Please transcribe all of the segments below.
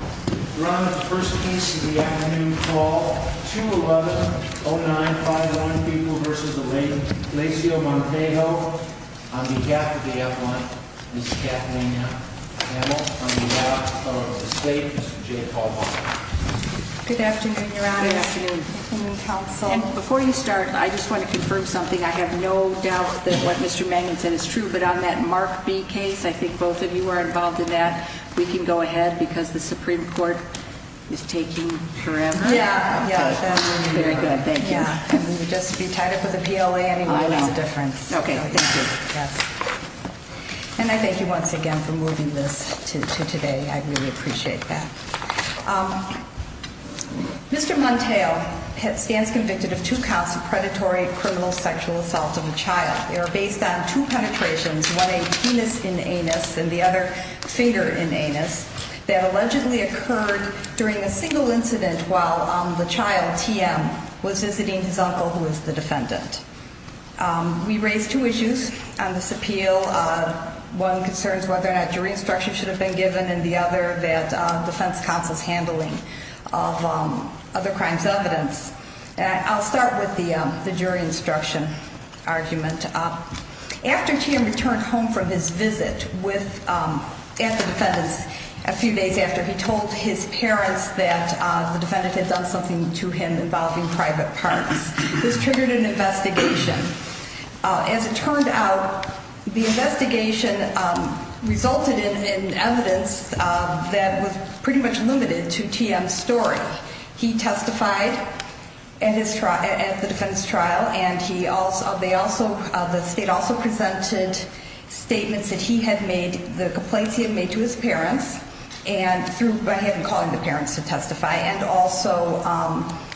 We're on to the first case of the afternoon call, 2-11-09-51, People v. Alain Glazio-Montejo. On behalf of the F1, Ms. Kathleen Hamel, on behalf of the state, Mr. Jay Paul Bonner. Good afternoon, Your Honor. Good afternoon. And before you start, I just want to confirm something. I have no doubt that what Mr. Mangan said is true, but on that Mark B case, I think both of you are involved in that. We can go ahead because the Supreme Court is taking her out. Yeah, yeah. Very good. Thank you. And we would just be tied up with a PLA anyway. I know. It makes a difference. Okay, thank you. And I thank you once again for moving this to today. I really appreciate that. Mr. Montejo stands convicted of two counts of predatory criminal sexual assault of a child. They are based on two penetrations, one a penis in anus and the other finger in anus, that allegedly occurred during a single incident while the child, TM, was visiting his uncle, who is the defendant. We raised two issues on this appeal. One concerns whether or not jury instruction should have been given, and the other that defense counsel's handling of other crimes evidence. I'll start with the jury instruction argument. After TM returned home from his visit at the defendant's a few days after he told his parents that the defendant had done something to him involving private parts, this triggered an investigation. As it turned out, the investigation resulted in evidence that was pretty much limited to TM's story. He testified at the defendant's trial, and the state also presented statements that he had made, the complaints he had made to his parents through him calling the parents to testify, and also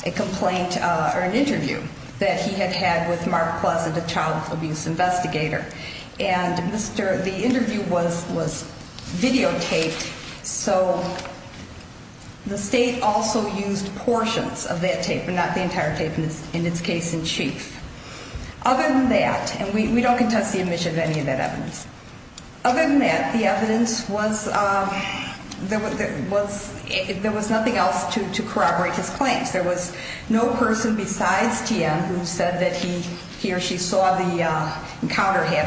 a complaint or an interview that he had had with Mark Pleasant, a child abuse investigator. And the interview was videotaped, so the state also used portions of that tape, but not the entire tape in its case in chief. Other than that, and we don't contest the admission of any of that evidence, other than that, the evidence was, there was nothing else to corroborate his claims. There was no person besides TM who said that he or she saw the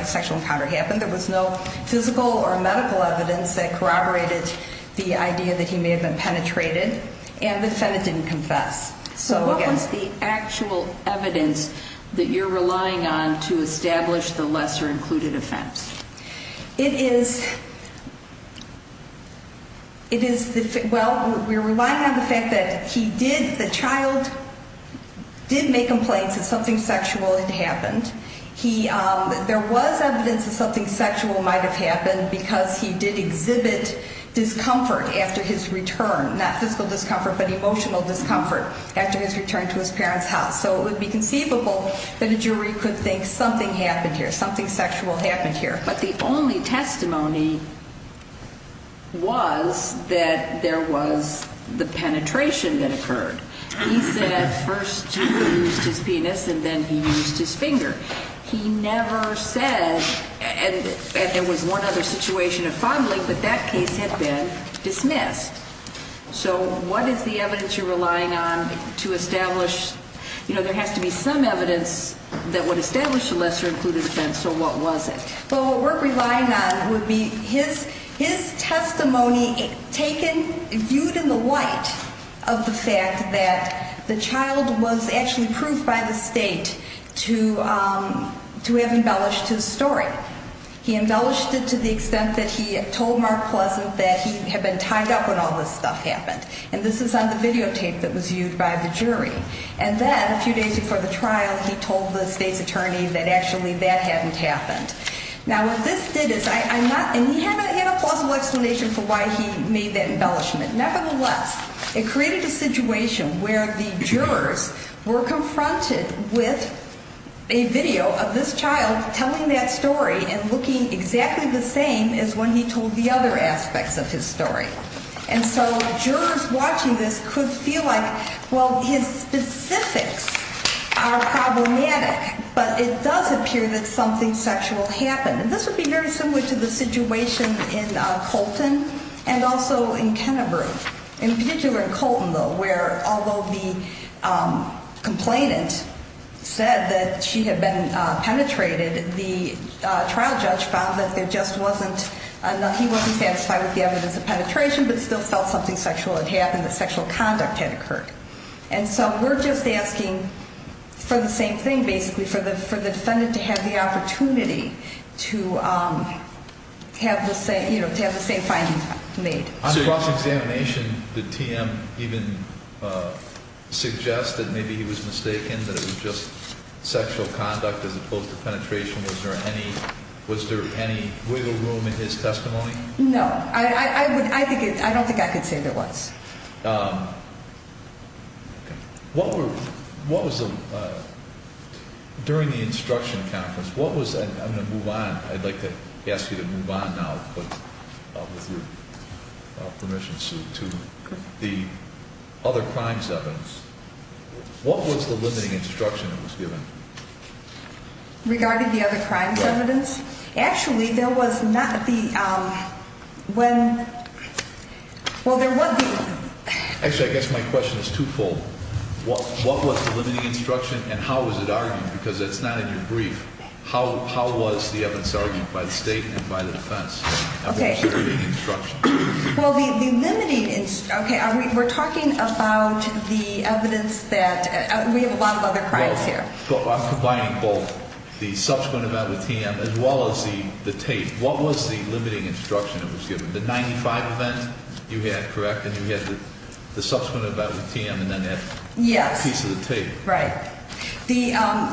sexual encounter happen. There was no physical or medical evidence that corroborated the idea that he may have been penetrated, and the defendant didn't confess. So what was the actual evidence that you're relying on to establish the lesser-included offense? It is, it is, well, we're relying on the fact that he did, the child did make complaints that something sexual had happened. He, there was evidence that something sexual might have happened because he did exhibit discomfort after his return, not physical discomfort but emotional discomfort after his return to his parents' house. So it would be conceivable that a jury could think something happened here, something sexual happened here. But the only testimony was that there was the penetration that occurred. He said at first he used his penis and then he used his finger. He never said, and there was one other situation of fumbling, but that case had been dismissed. So what is the evidence you're relying on to establish, you know, there has to be some evidence that would establish the lesser-included offense. So what was it? Well, what we're relying on would be his testimony taken, viewed in the light of the fact that the child was actually proved by the state to have embellished his story. He embellished it to the extent that he told Mark Pleasant that he had been tied up when all this stuff happened. And this is on the videotape that was viewed by the jury. And then a few days before the trial, he told the state's attorney that actually that hadn't happened. Now, what this did is I'm not, and he had not had a plausible explanation for why he made that embellishment. Nevertheless, it created a situation where the jurors were confronted with a video of this child telling that story. And looking exactly the same as when he told the other aspects of his story. And so jurors watching this could feel like, well, his specifics are problematic, but it does appear that something sexual happened. And this would be very similar to the situation in Colton and also in Kennebury. In particular in Colton, though, where although the complainant said that she had been penetrated, the trial judge found that there just wasn't enough, he wasn't satisfied with the evidence of penetration, but still felt something sexual had happened, that sexual conduct had occurred. And so we're just asking for the same thing, basically, for the defendant to have the opportunity to have the same finding made. On cross-examination, did TM even suggest that maybe he was mistaken, that it was just sexual conduct as opposed to penetration? Was there any wiggle room in his testimony? No. I don't think I could say there was. During the instruction conference, what was, I'm going to move on, I'd like to ask you to move on now with your permission, Sue, to the other crimes evidence. What was the limiting instruction that was given? Regarding the other crimes evidence? Actually, there was not the, when, well, there was the... Actually, I guess my question is twofold. What was the limiting instruction and how was it argued? Because it's not in your brief. How was the evidence argued by the state and by the defense? Okay. And what was the limiting instruction? Well, the limiting, okay, we're talking about the evidence that, we have a lot of other crimes here. Combining both the subsequent event with TM as well as the tape, what was the limiting instruction that was given? The 95 event you had, correct? And you had the subsequent event with TM and then that piece of the tape. Yes, right.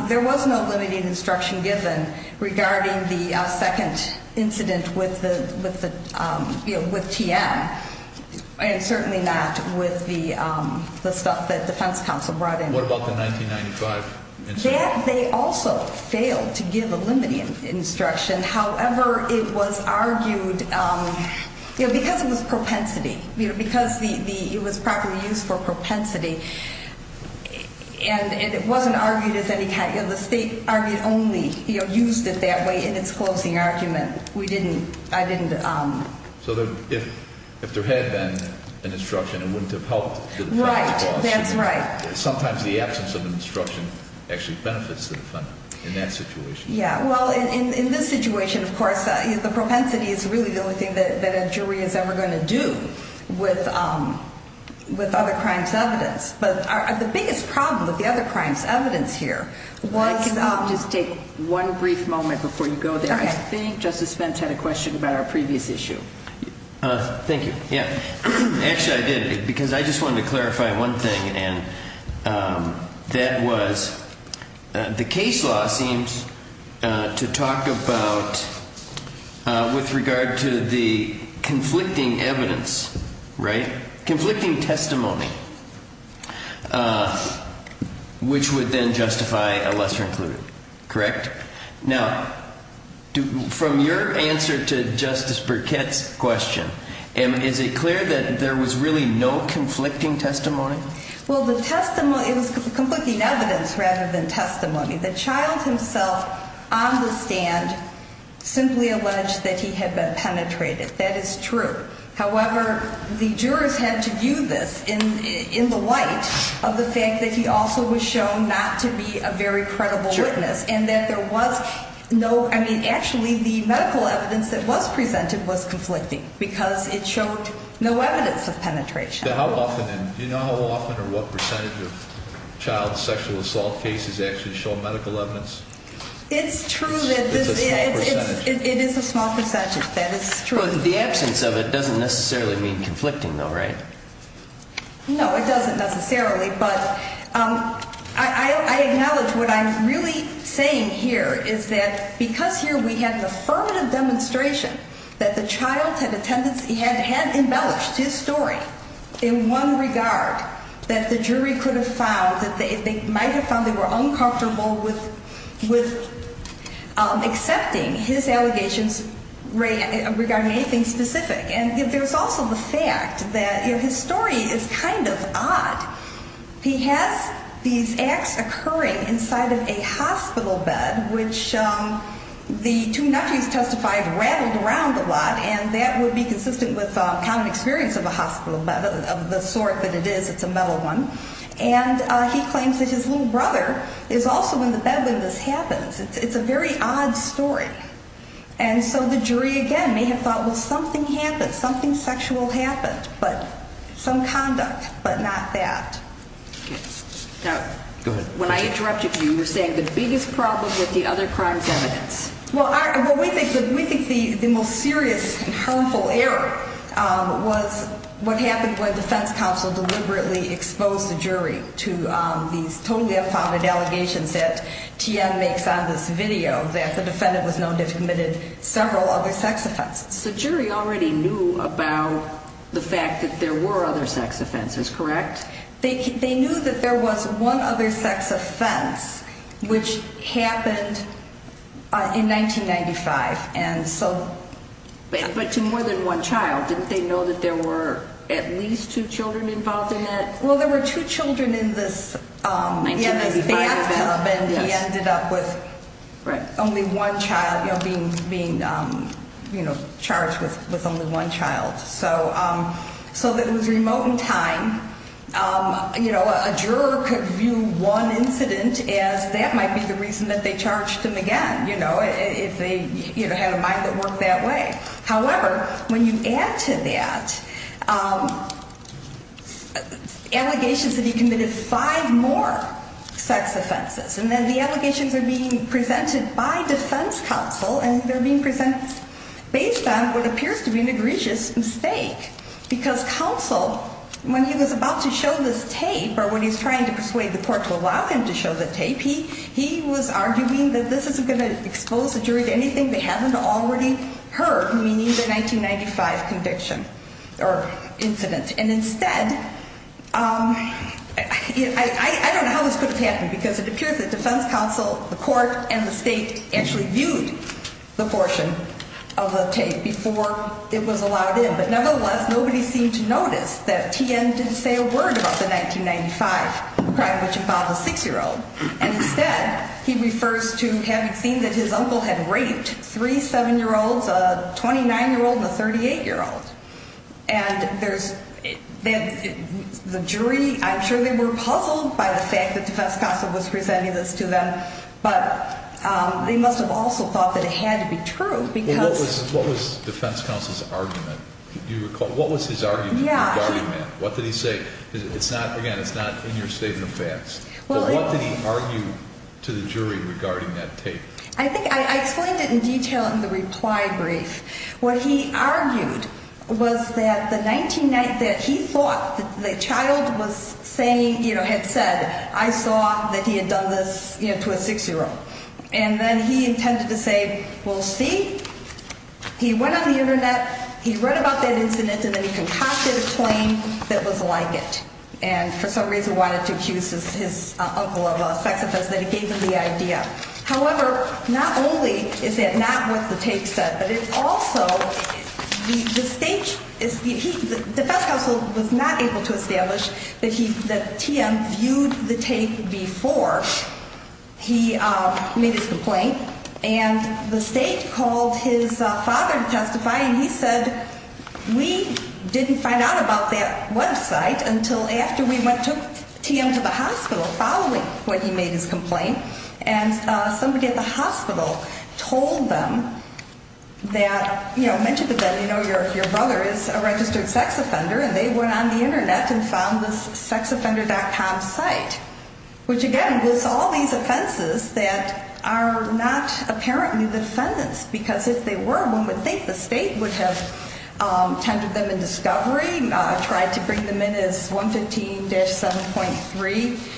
There was no limiting instruction given regarding the second incident with TM. And certainly not with the stuff that defense counsel brought in. What about the 1995 incident? That, they also failed to give a limiting instruction. However, it was argued, because it was propensity, because it was properly used for propensity, and it wasn't argued as any kind, the state argued only, used it that way in its closing argument. We didn't, I didn't... So if there had been an instruction, it wouldn't have helped. Right, that's right. Sometimes the absence of an instruction actually benefits the defendant in that situation. Yeah, well, in this situation, of course, the propensity is really the only thing that a jury is ever going to do with other crimes' evidence. But the biggest problem with the other crimes' evidence here was... Can I just take one brief moment before you go there? Okay. I think Justice Fentz had a question about our previous issue. Thank you, yeah. Actually, I did, because I just wanted to clarify one thing, and that was the case law seems to talk about, with regard to the conflicting evidence, right? Conflicting testimony, which would then justify a lesser included, correct? Now, from your answer to Justice Burkett's question, is it clear that there was really no conflicting testimony? Well, the testimony, it was conflicting evidence rather than testimony. The child himself on the stand simply alleged that he had been penetrated. That is true. However, the jurors had to view this in the light of the fact that he also was shown not to be a very credible witness, and that there was no... I mean, actually, the medical evidence that was presented was conflicting, because it showed no evidence of penetration. Do you know how often or what percentage of child sexual assault cases actually show medical evidence? It's true that... It's a small percentage. It is a small percentage. That is true. The absence of it doesn't necessarily mean conflicting, though, right? No, it doesn't necessarily, but I acknowledge what I'm really saying here is that because here we have the affirmative demonstration that the child had a tendency... had embellished his story in one regard, that the jury could have found that they might have found they were uncomfortable with accepting his allegations regarding anything specific. And there's also the fact that his story is kind of odd. He has these acts occurring inside of a hospital bed, which the two nephews testified rattled around a lot, and that would be consistent with common experience of a hospital bed of the sort that it is. It's a metal one. And he claims that his little brother is also in the bed when this happens. It's a very odd story. And so the jury, again, may have thought, well, something happened, something sexual happened, but some conduct, but not that. Now, when I interrupted you, you were saying the biggest problem with the other crimes evidence. Well, we think the most serious and harmful error was what happened when the defense counsel deliberately exposed the jury to these totally unfounded allegations that T.N. makes on this video, that the defendant was known to have committed several other sex offenses. So the jury already knew about the fact that there were other sex offenses, correct? They knew that there was one other sex offense, which happened in 1995. But to more than one child. Didn't they know that there were at least two children involved in it? Well, there were two children in this bathtub, and he ended up with only one child, being charged with only one child. So that it was remote in time. You know, a juror could view one incident as that might be the reason that they charged him again, you know, if they had a mind that worked that way. However, when you add to that, allegations that he committed five more sex offenses. And then the allegations are being presented by defense counsel, and they're being presented based on what appears to be an egregious mistake. Because counsel, when he was about to show this tape, or when he's trying to persuade the court to allow him to show the tape, he was arguing that this isn't going to expose the jury to anything they haven't already heard, meaning the 1995 conviction or incident. And instead, I don't know how this could have happened, because it appears that defense counsel, the court, and the state actually viewed the portion of the tape before it was allowed in. But nevertheless, nobody seemed to notice that T.N. didn't say a word about the 1995 crime, which involved a six-year-old. And instead, he refers to having seen that his uncle had raped three seven-year-olds, a 29-year-old and a 38-year-old. And the jury, I'm sure they were puzzled by the fact that defense counsel was presenting this to them. But they must have also thought that it had to be true, because... What was defense counsel's argument? Do you recall? What was his argument regarding that? Yeah. What did he say? Again, it's not in your statement of facts. But what did he argue to the jury regarding that tape? I explained it in detail in the reply brief. What he argued was that the 19 night that he thought the child was saying, you know, had said, I saw that he had done this, you know, to a six-year-old. And then he intended to say, well, see? He went on the Internet, he read about that incident, and then he concocted a claim that was like it. And for some reason wanted to accuse his uncle of a sex offense, that he gave him the idea. However, not only is that not what the tape said, but it also, the state, the defense counsel was not able to establish that TM viewed the tape before he made his complaint. And the state called his father to testify, and he said, we didn't find out about that website until after we went and took TM to the hospital following what he made his complaint. And somebody at the hospital told them that, you know, mentioned to them, you know, your brother is a registered sex offender. And they went on the Internet and found this sexoffender.com site, which, again, was all these offenses that are not apparently defendants. Because if they were, one would think the state would have tendered them in discovery, tried to bring them in as 115-7.3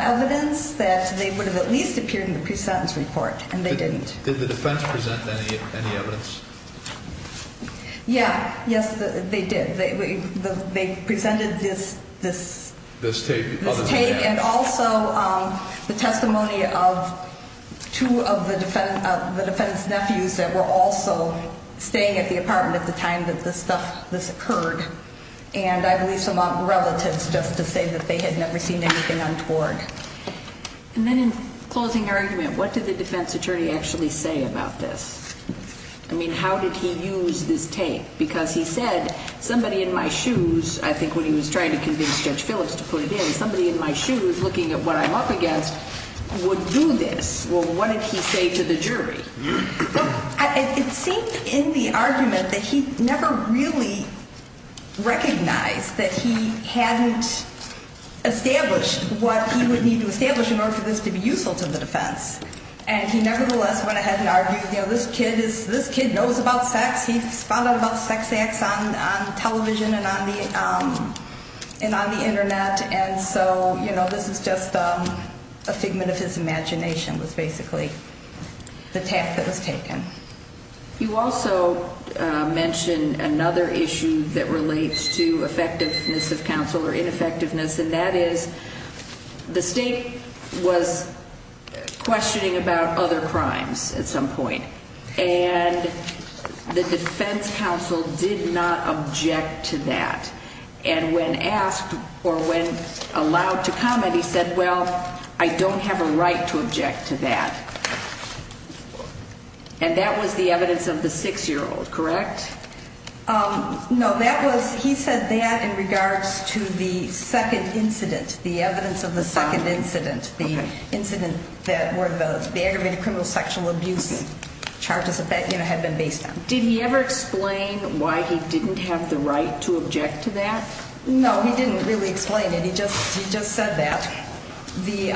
evidence that they would have at least appeared in the pre-sentence report. And they didn't. Did the defense present any evidence? Yeah. Yes, they did. They presented this tape and also the testimony of two of the defense nephews that were also staying at the apartment at the time that this stuff, this occurred. And I believe some relatives, just to say that they had never seen anything untoward. And then in closing argument, what did the defense attorney actually say about this? I mean, how did he use this tape? Because he said, somebody in my shoes, I think when he was trying to convince Judge Phillips to put it in, somebody in my shoes looking at what I'm up against would do this. Well, what did he say to the jury? It seemed in the argument that he never really recognized that he hadn't established what he would need to establish in order for this to be useful to the defense. And he nevertheless went ahead and argued, you know, this kid knows about sex. He's found out about sex acts on television and on the Internet. And so, you know, this is just a figment of his imagination was basically the tap that was taken. You also mentioned another issue that relates to effectiveness of counsel or ineffectiveness. And that is the state was questioning about other crimes at some point. And the defense counsel did not object to that. And when asked or when allowed to comment, he said, well, I don't have a right to object to that. And that was the evidence of the six-year-old, correct? No, that was he said that in regards to the second incident, the evidence of the second incident, the incident that were the aggravated criminal sexual abuse charges have been based on. Did he ever explain why he didn't have the right to object to that? No, he didn't really explain it. He just he just said that. The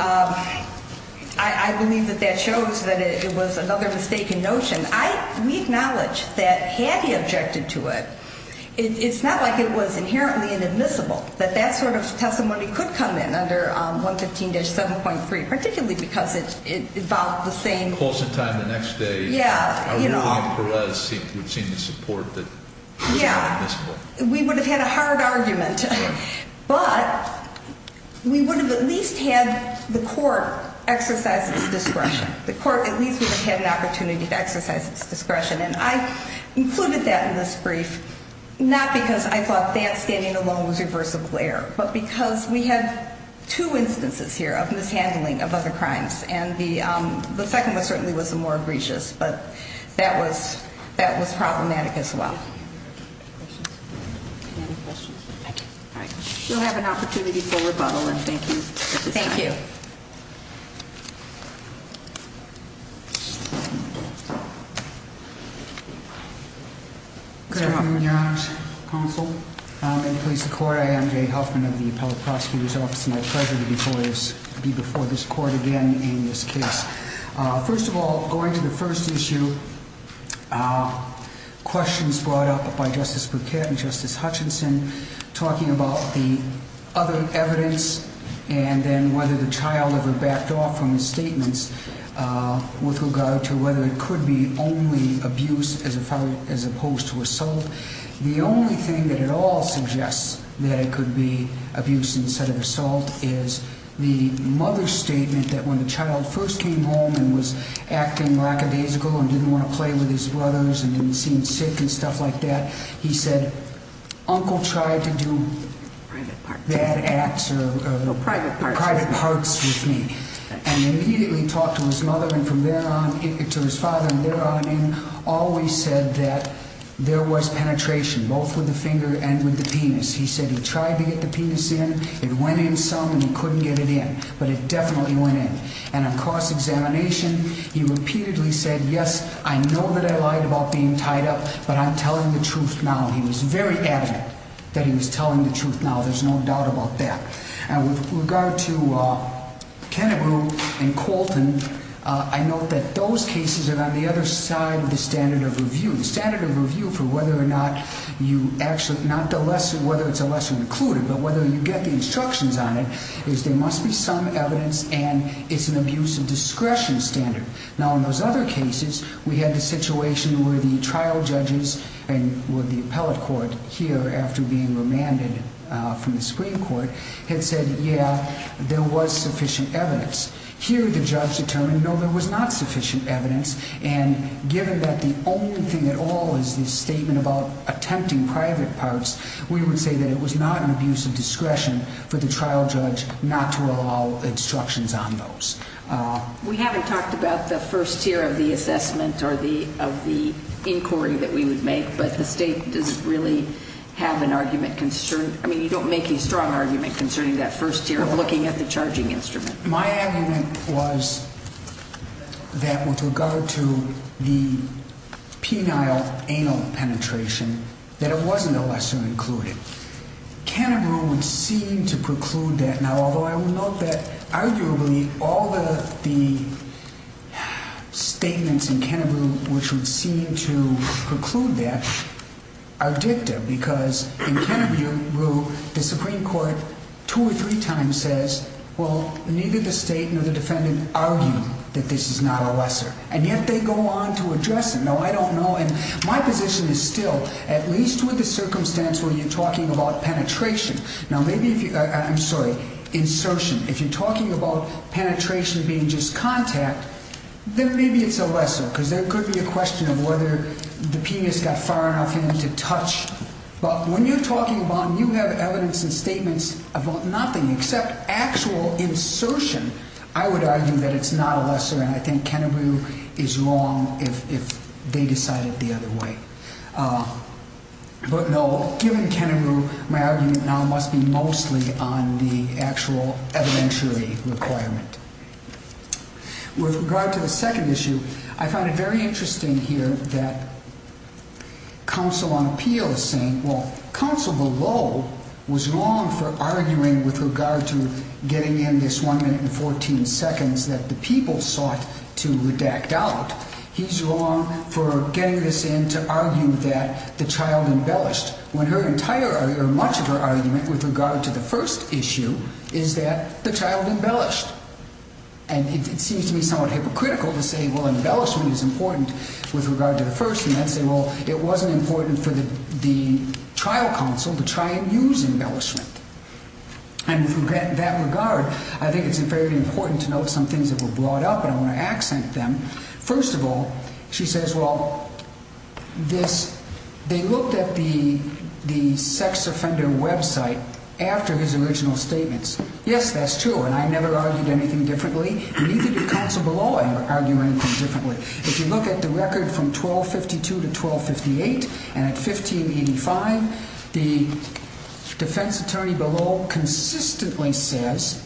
I believe that that shows that it was another mistaken notion. I we acknowledge that he objected to it. It's not like it was inherently inadmissible that that sort of testimony could come in under 115 7.3, particularly because it involved the same course of time. The next day. Yeah. You know, we've seen the support that we would have had a hard argument. But we would have at least had the court exercise discretion. The court at least had an opportunity to exercise its discretion. And I included that in this brief, not because I thought that standing alone was reversible error, but because we had two instances here of mishandling of other crimes. And the second one certainly was the more egregious. But that was that was problematic as well. You'll have an opportunity for rebuttal. And thank you. Thank you. Good morning, Your Honor's counsel and police court. I am Jay Huffman of the appellate prosecutor's office. My pleasure to be before you before this court again in this case. First of all, going to the first issue. Questions brought up by Justice Burkett and Justice Hutchinson talking about the other evidence and then whether the child ever backed off from the statements with regard to whether it could be only abuse as opposed to assault. The only thing that it all suggests that it could be abuse instead of assault is the mother's statement that when the child first came home and was acting lackadaisical and didn't want to play with his brothers and didn't seem sick and stuff like that. He said, uncle tried to do private parts with me and immediately talked to his mother and from there on to his father and there on in always said that there was penetration, both with the finger and with the penis. He said he tried to get the penis in. It went in some and he couldn't get it in, but it definitely went in. And of course, examination. He repeatedly said, yes, I know that I lied about being tied up, but I'm telling the truth now. He was very evident that he was telling the truth. Now, there's no doubt about that. And with regard to Kennebrew and Colton, I note that those cases are on the other side of the standard of review. The standard of review for whether or not you actually not the lesson, whether it's a lesson included, but whether you get the instructions on it is there must be some evidence and it's an abuse of discretion standard. Now, in those other cases, we had the situation where the trial judges and with the appellate court here after being remanded from the Supreme Court had said, yeah, there was sufficient evidence here. The judge determined, no, there was not sufficient evidence. And given that the only thing at all is this statement about attempting private parts, we would say that it was not an abuse of discretion for the trial judge not to allow instructions on those. We haven't talked about the first tier of the assessment or of the inquiry that we would make, but the state doesn't really have an argument concern. I mean, you don't make a strong argument concerning that first tier of looking at the charging instrument. My argument was that with regard to the penile anal penetration, that it wasn't a lesson included. Kennebrew would seem to preclude that. Now, although I will note that arguably all the statements in Kennebrew which would seem to preclude that are dicta because in Kennebrew, the Supreme Court two or three times says, well, neither the state nor the defendant argue that this is not a lesson. And yet they go on to address it. You know, I don't know. And my position is still at least with the circumstance where you're talking about penetration. Now, maybe I'm sorry, insertion. If you're talking about penetration being just contact, then maybe it's a lesson because there could be a question of whether the penis got far enough in to touch. But when you're talking about you have evidence and statements about nothing except actual insertion. I would argue that it's not a lesson. And I think Kennebrew is wrong if they decided the other way. But no, given Kennebrew, my argument now must be mostly on the actual evidentiary requirement. With regard to the second issue, I find it very interesting here that counsel on appeal is saying, well, counsel below was wrong for arguing with regard to getting in this one minute and 14 seconds that the people sought to redact out. He's wrong for getting this in to argue that the child embellished. When her entire or much of her argument with regard to the first issue is that the child embellished. And it seems to me somewhat hypocritical to say, well, embellishment is important with regard to the first. And I'd say, well, it wasn't important for the trial counsel to try and use embellishment. And that regard, I think it's very important to note some things that were brought up. And I want to accent them. First of all, she says, well, this they looked at the the sex offender website after his original statements. Yes, that's true. And I never argued anything differently. Neither did counsel below argue anything differently. If you look at the record from 1252 to 1258 and at 1585, the defense attorney below consistently says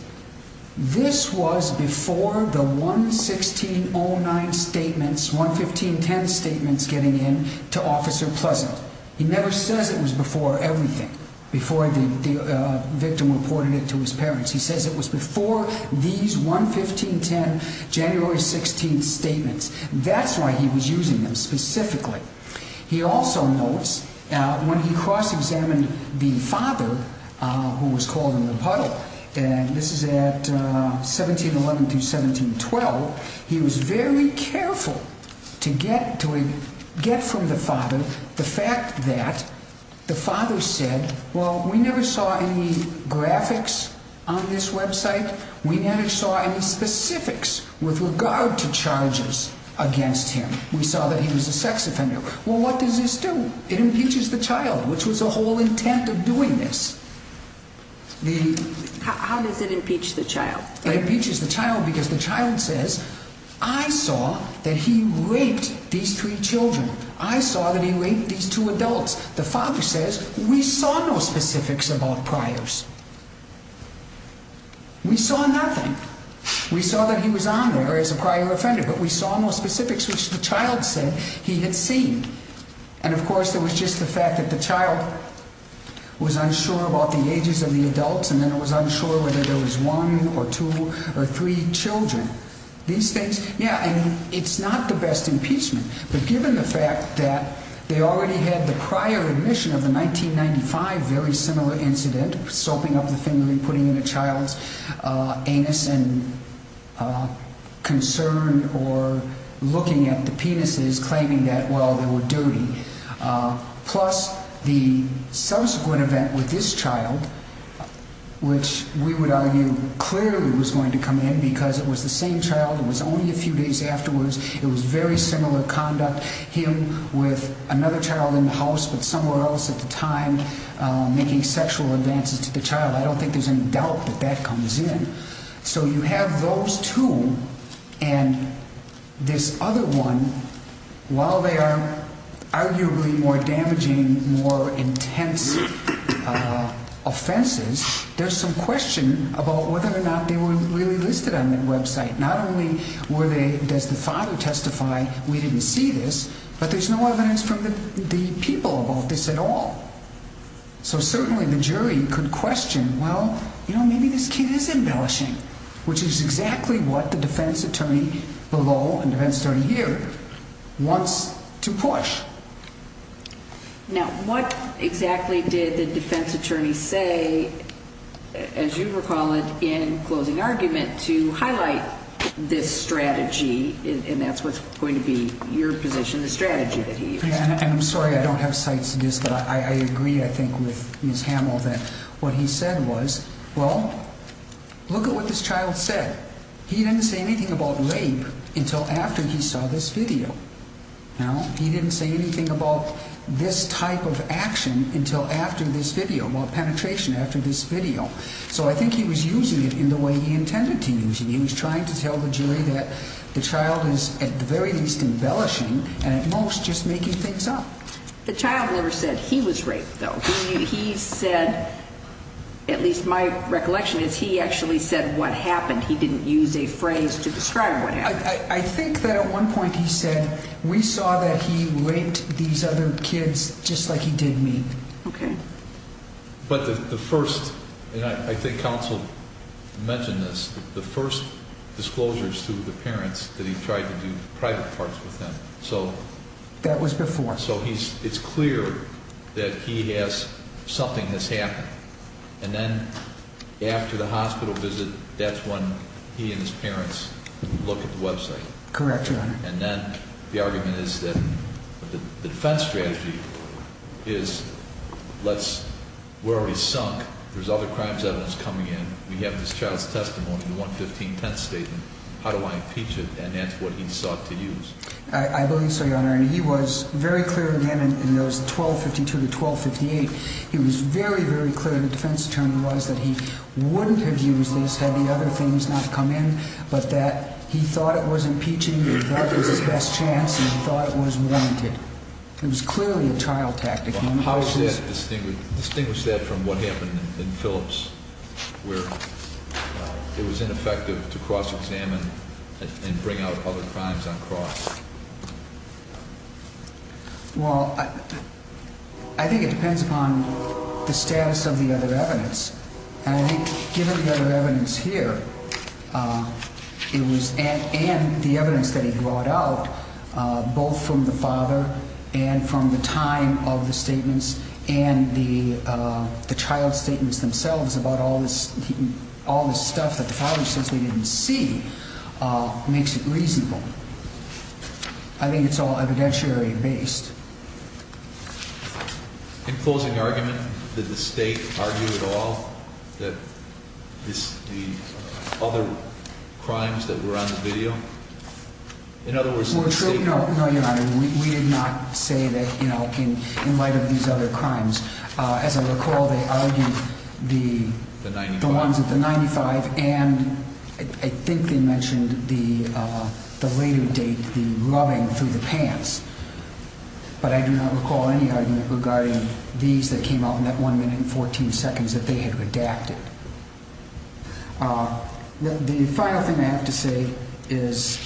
this was before the one 1609 statements, one 1510 statements getting in to Officer Pleasant. He never says it was before everything before the victim reported it to his parents. He says it was before these one 1510 January 16th statements. That's why he was using them specifically. He also notes when he cross examined the father who was called in the puddle. And this is at 1711 to 1712. He was very careful to get to get from the father the fact that the father said, well, we never saw any graphics on this website. We never saw any specifics with regard to charges against him. We saw that he was a sex offender. Well, what does this do? It impeaches the child, which was a whole intent of doing this. How does it impeach the child? It impeaches the child because the child says, I saw that he raped these three children. I saw that he raped these two adults. The father says we saw no specifics about priors. We saw nothing. We saw that he was on there as a prior offender, but we saw no specifics, which the child said he had seen. And of course, there was just the fact that the child was unsure about the ages of the adults. And then it was unsure whether there was one or two or three children. These things. Yeah. And it's not the best impeachment. But given the fact that they already had the prior admission of the 1995 very similar incident, soaping up the family, putting in a child's anus and concern or looking at the penises, claiming that, well, they were dirty. Plus the subsequent event with this child, which we would argue clearly was going to come in because it was the same child. It was only a few days afterwards. It was very similar conduct. Him with another child in the house, but somewhere else at the time, making sexual advances to the child. I don't think there's any doubt that that comes in. So you have those two. And this other one, while they are arguably more damaging, more intense offenses, there's some question about whether or not they were really listed on the website. Not only were they, does the father testify, we didn't see this, but there's no evidence from the people about this at all. So certainly the jury could question, well, you know, maybe this kid is embellishing, which is exactly what the defense attorney below and defense attorney here wants to push. Now, what exactly did the defense attorney say, as you recall it in closing argument, to highlight this strategy? And that's what's going to be your position, the strategy that he used. And I'm sorry, I don't have sites to do this, but I agree, I think, with Ms. Hamill that what he said was, well, look at what this child said. He didn't say anything about rape until after he saw this video. He didn't say anything about this type of action until after this video, well, penetration after this video. So I think he was using it in the way he intended to use it. He was trying to tell the jury that the child is at the very least embellishing and at most just making things up. The child never said he was raped, though. He said, at least my recollection is, he actually said what happened. He didn't use a phrase to describe what happened. I think that at one point he said, we saw that he raped these other kids just like he did me. Okay. But the first, and I think counsel mentioned this, the first disclosures to the parents that he tried to do private parts with them. That was before. So it's clear that he has, something has happened. And then after the hospital visit, that's when he and his parents look at the website. Correct, Your Honor. And then the argument is that the defense strategy is, let's, we're already sunk. There's other crimes evidence coming in. We have this child's testimony, the 115 tenth statement. How do I impeach it? And that's what he sought to use. I believe so, Your Honor. And he was very clear again in those 1252 to 1258. He was very, very clear. The defense attorney was that he wouldn't have used this had the other things not come in. But that he thought it was impeaching. He thought it was his best chance. And he thought it was warranted. It was clearly a trial tactic. How does that distinguish that from what happened in Phillips where it was ineffective to cross-examine and bring out other crimes on cross? Well, I think it depends upon the status of the other evidence. And I think given the other evidence here, it was, and the evidence that he brought out, both from the father and from the time of the statements and the child's statements themselves about all this, all this stuff that the father says we didn't see, makes it reasonable. I think it's all evidentiary based. In closing argument, did the state argue at all that this, the other crimes that were on the video? In other words... No, Your Honor. We did not say that, you know, in light of these other crimes. As I recall, they argued the ones at the 95 and I think they mentioned the later date, the rubbing through the pants. But I do not recall any argument regarding these that came out in that one minute and 14 seconds that they had redacted. The final thing I have to say is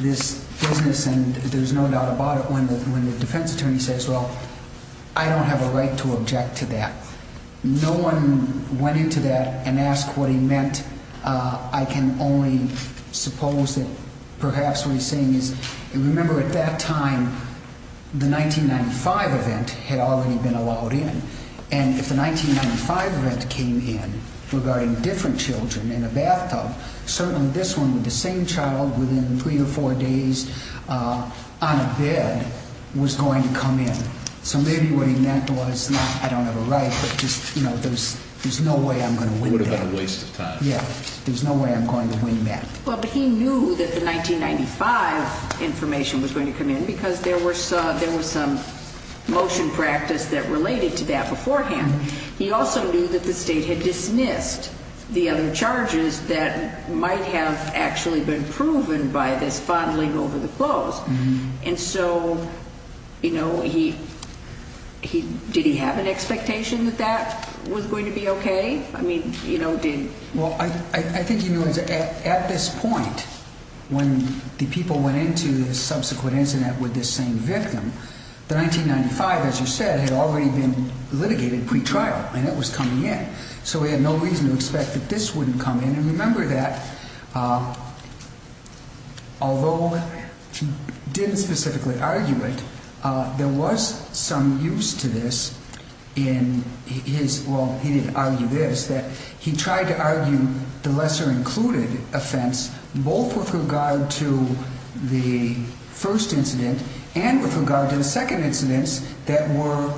this business, and there's no doubt about it, when the defense attorney says, well, I don't have a right to object to that. No one went into that and asked what he meant. I can only suppose that perhaps what he's saying is, remember at that time, the 1995 event had already been allowed in. And if the 1995 event came in regarding different children in a bathtub, certainly this one with the same child within three or four days on a bed was going to come in. So maybe what he meant was, I don't have a right, but there's no way I'm going to win that. What a waste of time. Yeah, there's no way I'm going to win that. Well, but he knew that the 1995 information was going to come in because there was some motion practice that related to that beforehand. He also knew that the state had dismissed the other charges that might have actually been proven by this fondling over the clothes. And so, you know, did he have an expectation that that was going to be okay? I mean, you know, did. Well, I think, you know, at this point, when the people went into the subsequent incident with this same victim, the 1995, as you said, had already been litigated pretrial and it was coming in. So we had no reason to expect that this wouldn't come in. Remember that although he didn't specifically argue it, there was some use to this in his. Well, he didn't argue this, that he tried to argue the lesser included offense, both with regard to the first incident and with regard to the second incidents that were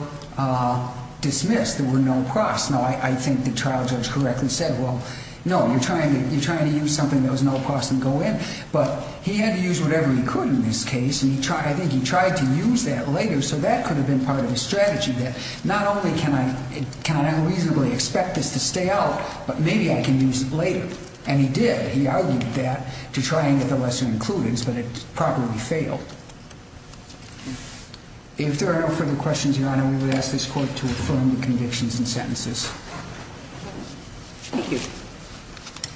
dismissed. There were no cross. No, I think the trial judge correctly said, well, no, you're trying to you're trying to use something that was no cross and go in. But he had to use whatever he could in this case. And he tried. I think he tried to use that later. So that could have been part of the strategy that not only can I reasonably expect this to stay out, but maybe I can use it later. And he did. He argued that to try and get the lesser included, but it probably failed. If there are no further questions, Your Honor, we would ask this court to affirm the convictions and sentences. Thank you.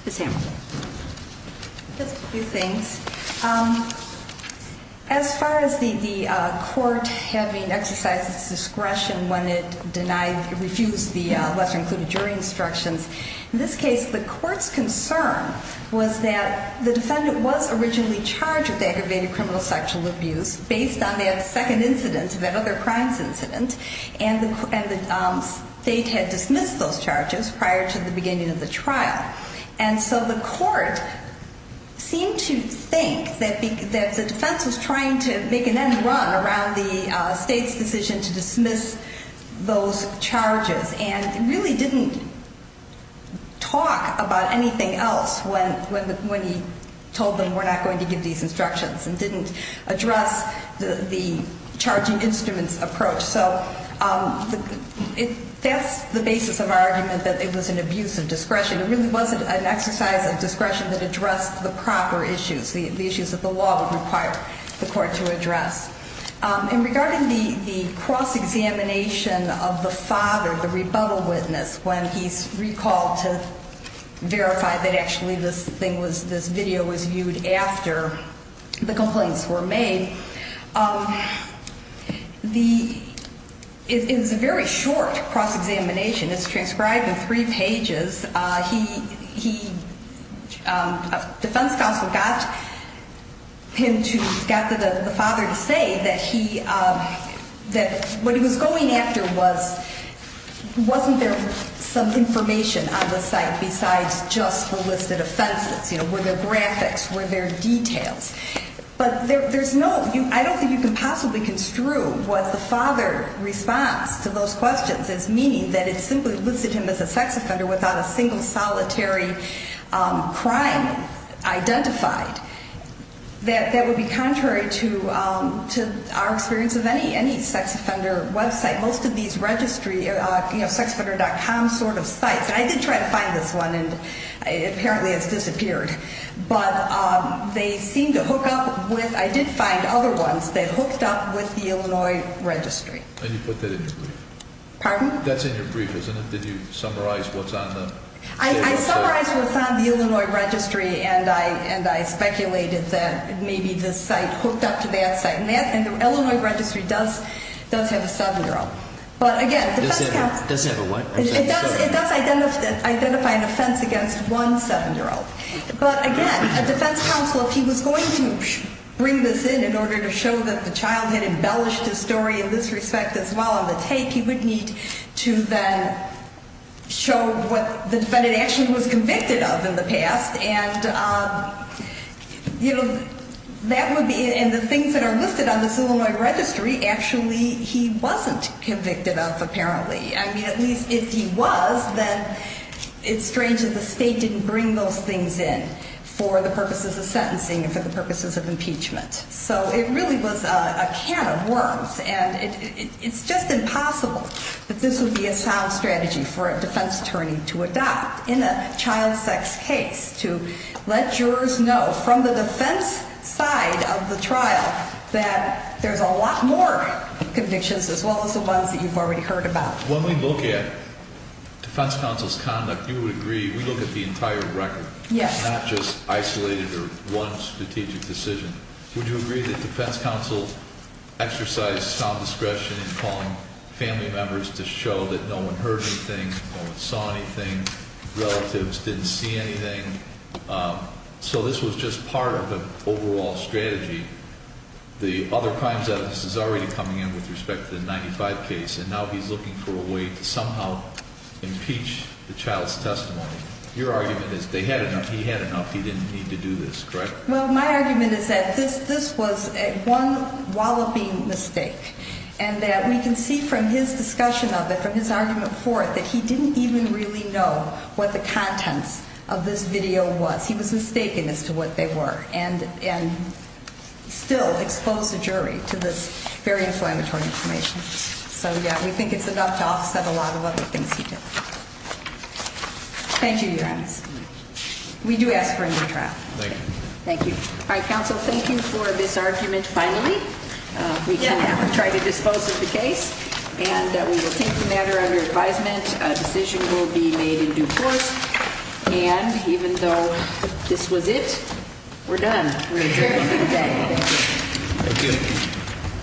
Ms. Hammond. Just a few things. As far as the court having exercised its discretion when it denied, refused the lesser included jury instructions, in this case, the court's concern was that the defendant was originally charged with aggravated criminal sexual abuse. Based on that second incident, that other crimes incident, and the state had dismissed those charges prior to the beginning of the trial. And so the court seemed to think that the defense was trying to make an end run around the state's decision to dismiss those charges. And really didn't talk about anything else when he told them we're not going to give these instructions and didn't address the charging instruments approach. So that's the basis of our argument that it was an abuse of discretion. It really wasn't an exercise of discretion that addressed the proper issues, the issues that the law would require the court to address. And regarding the cross-examination of the father, the rebuttal witness, when he's recalled to verify that actually this thing was, this video was viewed after the complaints were made. The, it's a very short cross-examination. It's transcribed in three pages. He, defense counsel got him to, got the father to say that he, that what he was going after was, wasn't there some information on the site besides just the listed offenses? You know, were there graphics? Were there details? But there, there's no, I don't think you can possibly construe what the father response to those questions as meaning that it simply listed him as a sex offender without a single solitary crime identified. That, that would be contrary to, to our experience of any, any sex offender website. Most of these registry, you know, sexoffender.com sort of sites, I did try to find this one and apparently it's disappeared. But they seem to hook up with, I did find other ones that hooked up with the Illinois registry. And you put that in your brief? Pardon? That's in your brief, isn't it? Did you summarize what's on the? I, I summarized what's on the Illinois registry and I, and I speculated that maybe this site hooked up to that site. And that, and the Illinois registry does, does have a seven-year-old. But again, defense counsel. Does it have a what? It does, it does identify an offense against one seven-year-old. But again, a defense counsel, if he was going to bring this in, in order to show that the child had embellished his story in this respect as well on the tape, he would need to then show what the defendant actually was convicted of in the past. And, you know, that would be, and the things that are listed on this Illinois registry, actually he wasn't convicted of apparently. I mean, at least if he was, then it's strange that the state didn't bring those things in for the purposes of sentencing and for the purposes of impeachment. So it really was a can of worms. And it, it, it's just impossible that this would be a sound strategy for a defense attorney to adopt in a child sex case. To let jurors know from the defense side of the trial that there's a lot more convictions as well as the ones that you've already heard about. When we look at defense counsel's conduct, you would agree, we look at the entire record. Yes. Not just isolated or one strategic decision. Would you agree that defense counsel exercised sound discretion in calling family members to show that no one heard anything, no one saw anything, relatives didn't see anything. So this was just part of the overall strategy. The other crimes evidence is already coming in with respect to the 95 case and now he's looking for a way to somehow impeach the child's testimony. Your argument is they had enough, he had enough, he didn't need to do this, correct? Well, my argument is that this, this was one walloping mistake. And that we can see from his discussion of it, from his argument for it, that he didn't even really know what the contents of this video was. He was mistaken as to what they were. And, and still exposed the jury to this very inflammatory information. So, yeah, we think it's enough to offset a lot of other things he did. Thank you, Your Honor. We do ask for a new trial. Thank you. Thank you. All right, counsel, thank you for this argument finally. We can try to dispose of the case and we will take the matter under advisement. A decision will be made in due course. And even though this was it, we're done. We're adjourned for the day. Thank you. Thank you.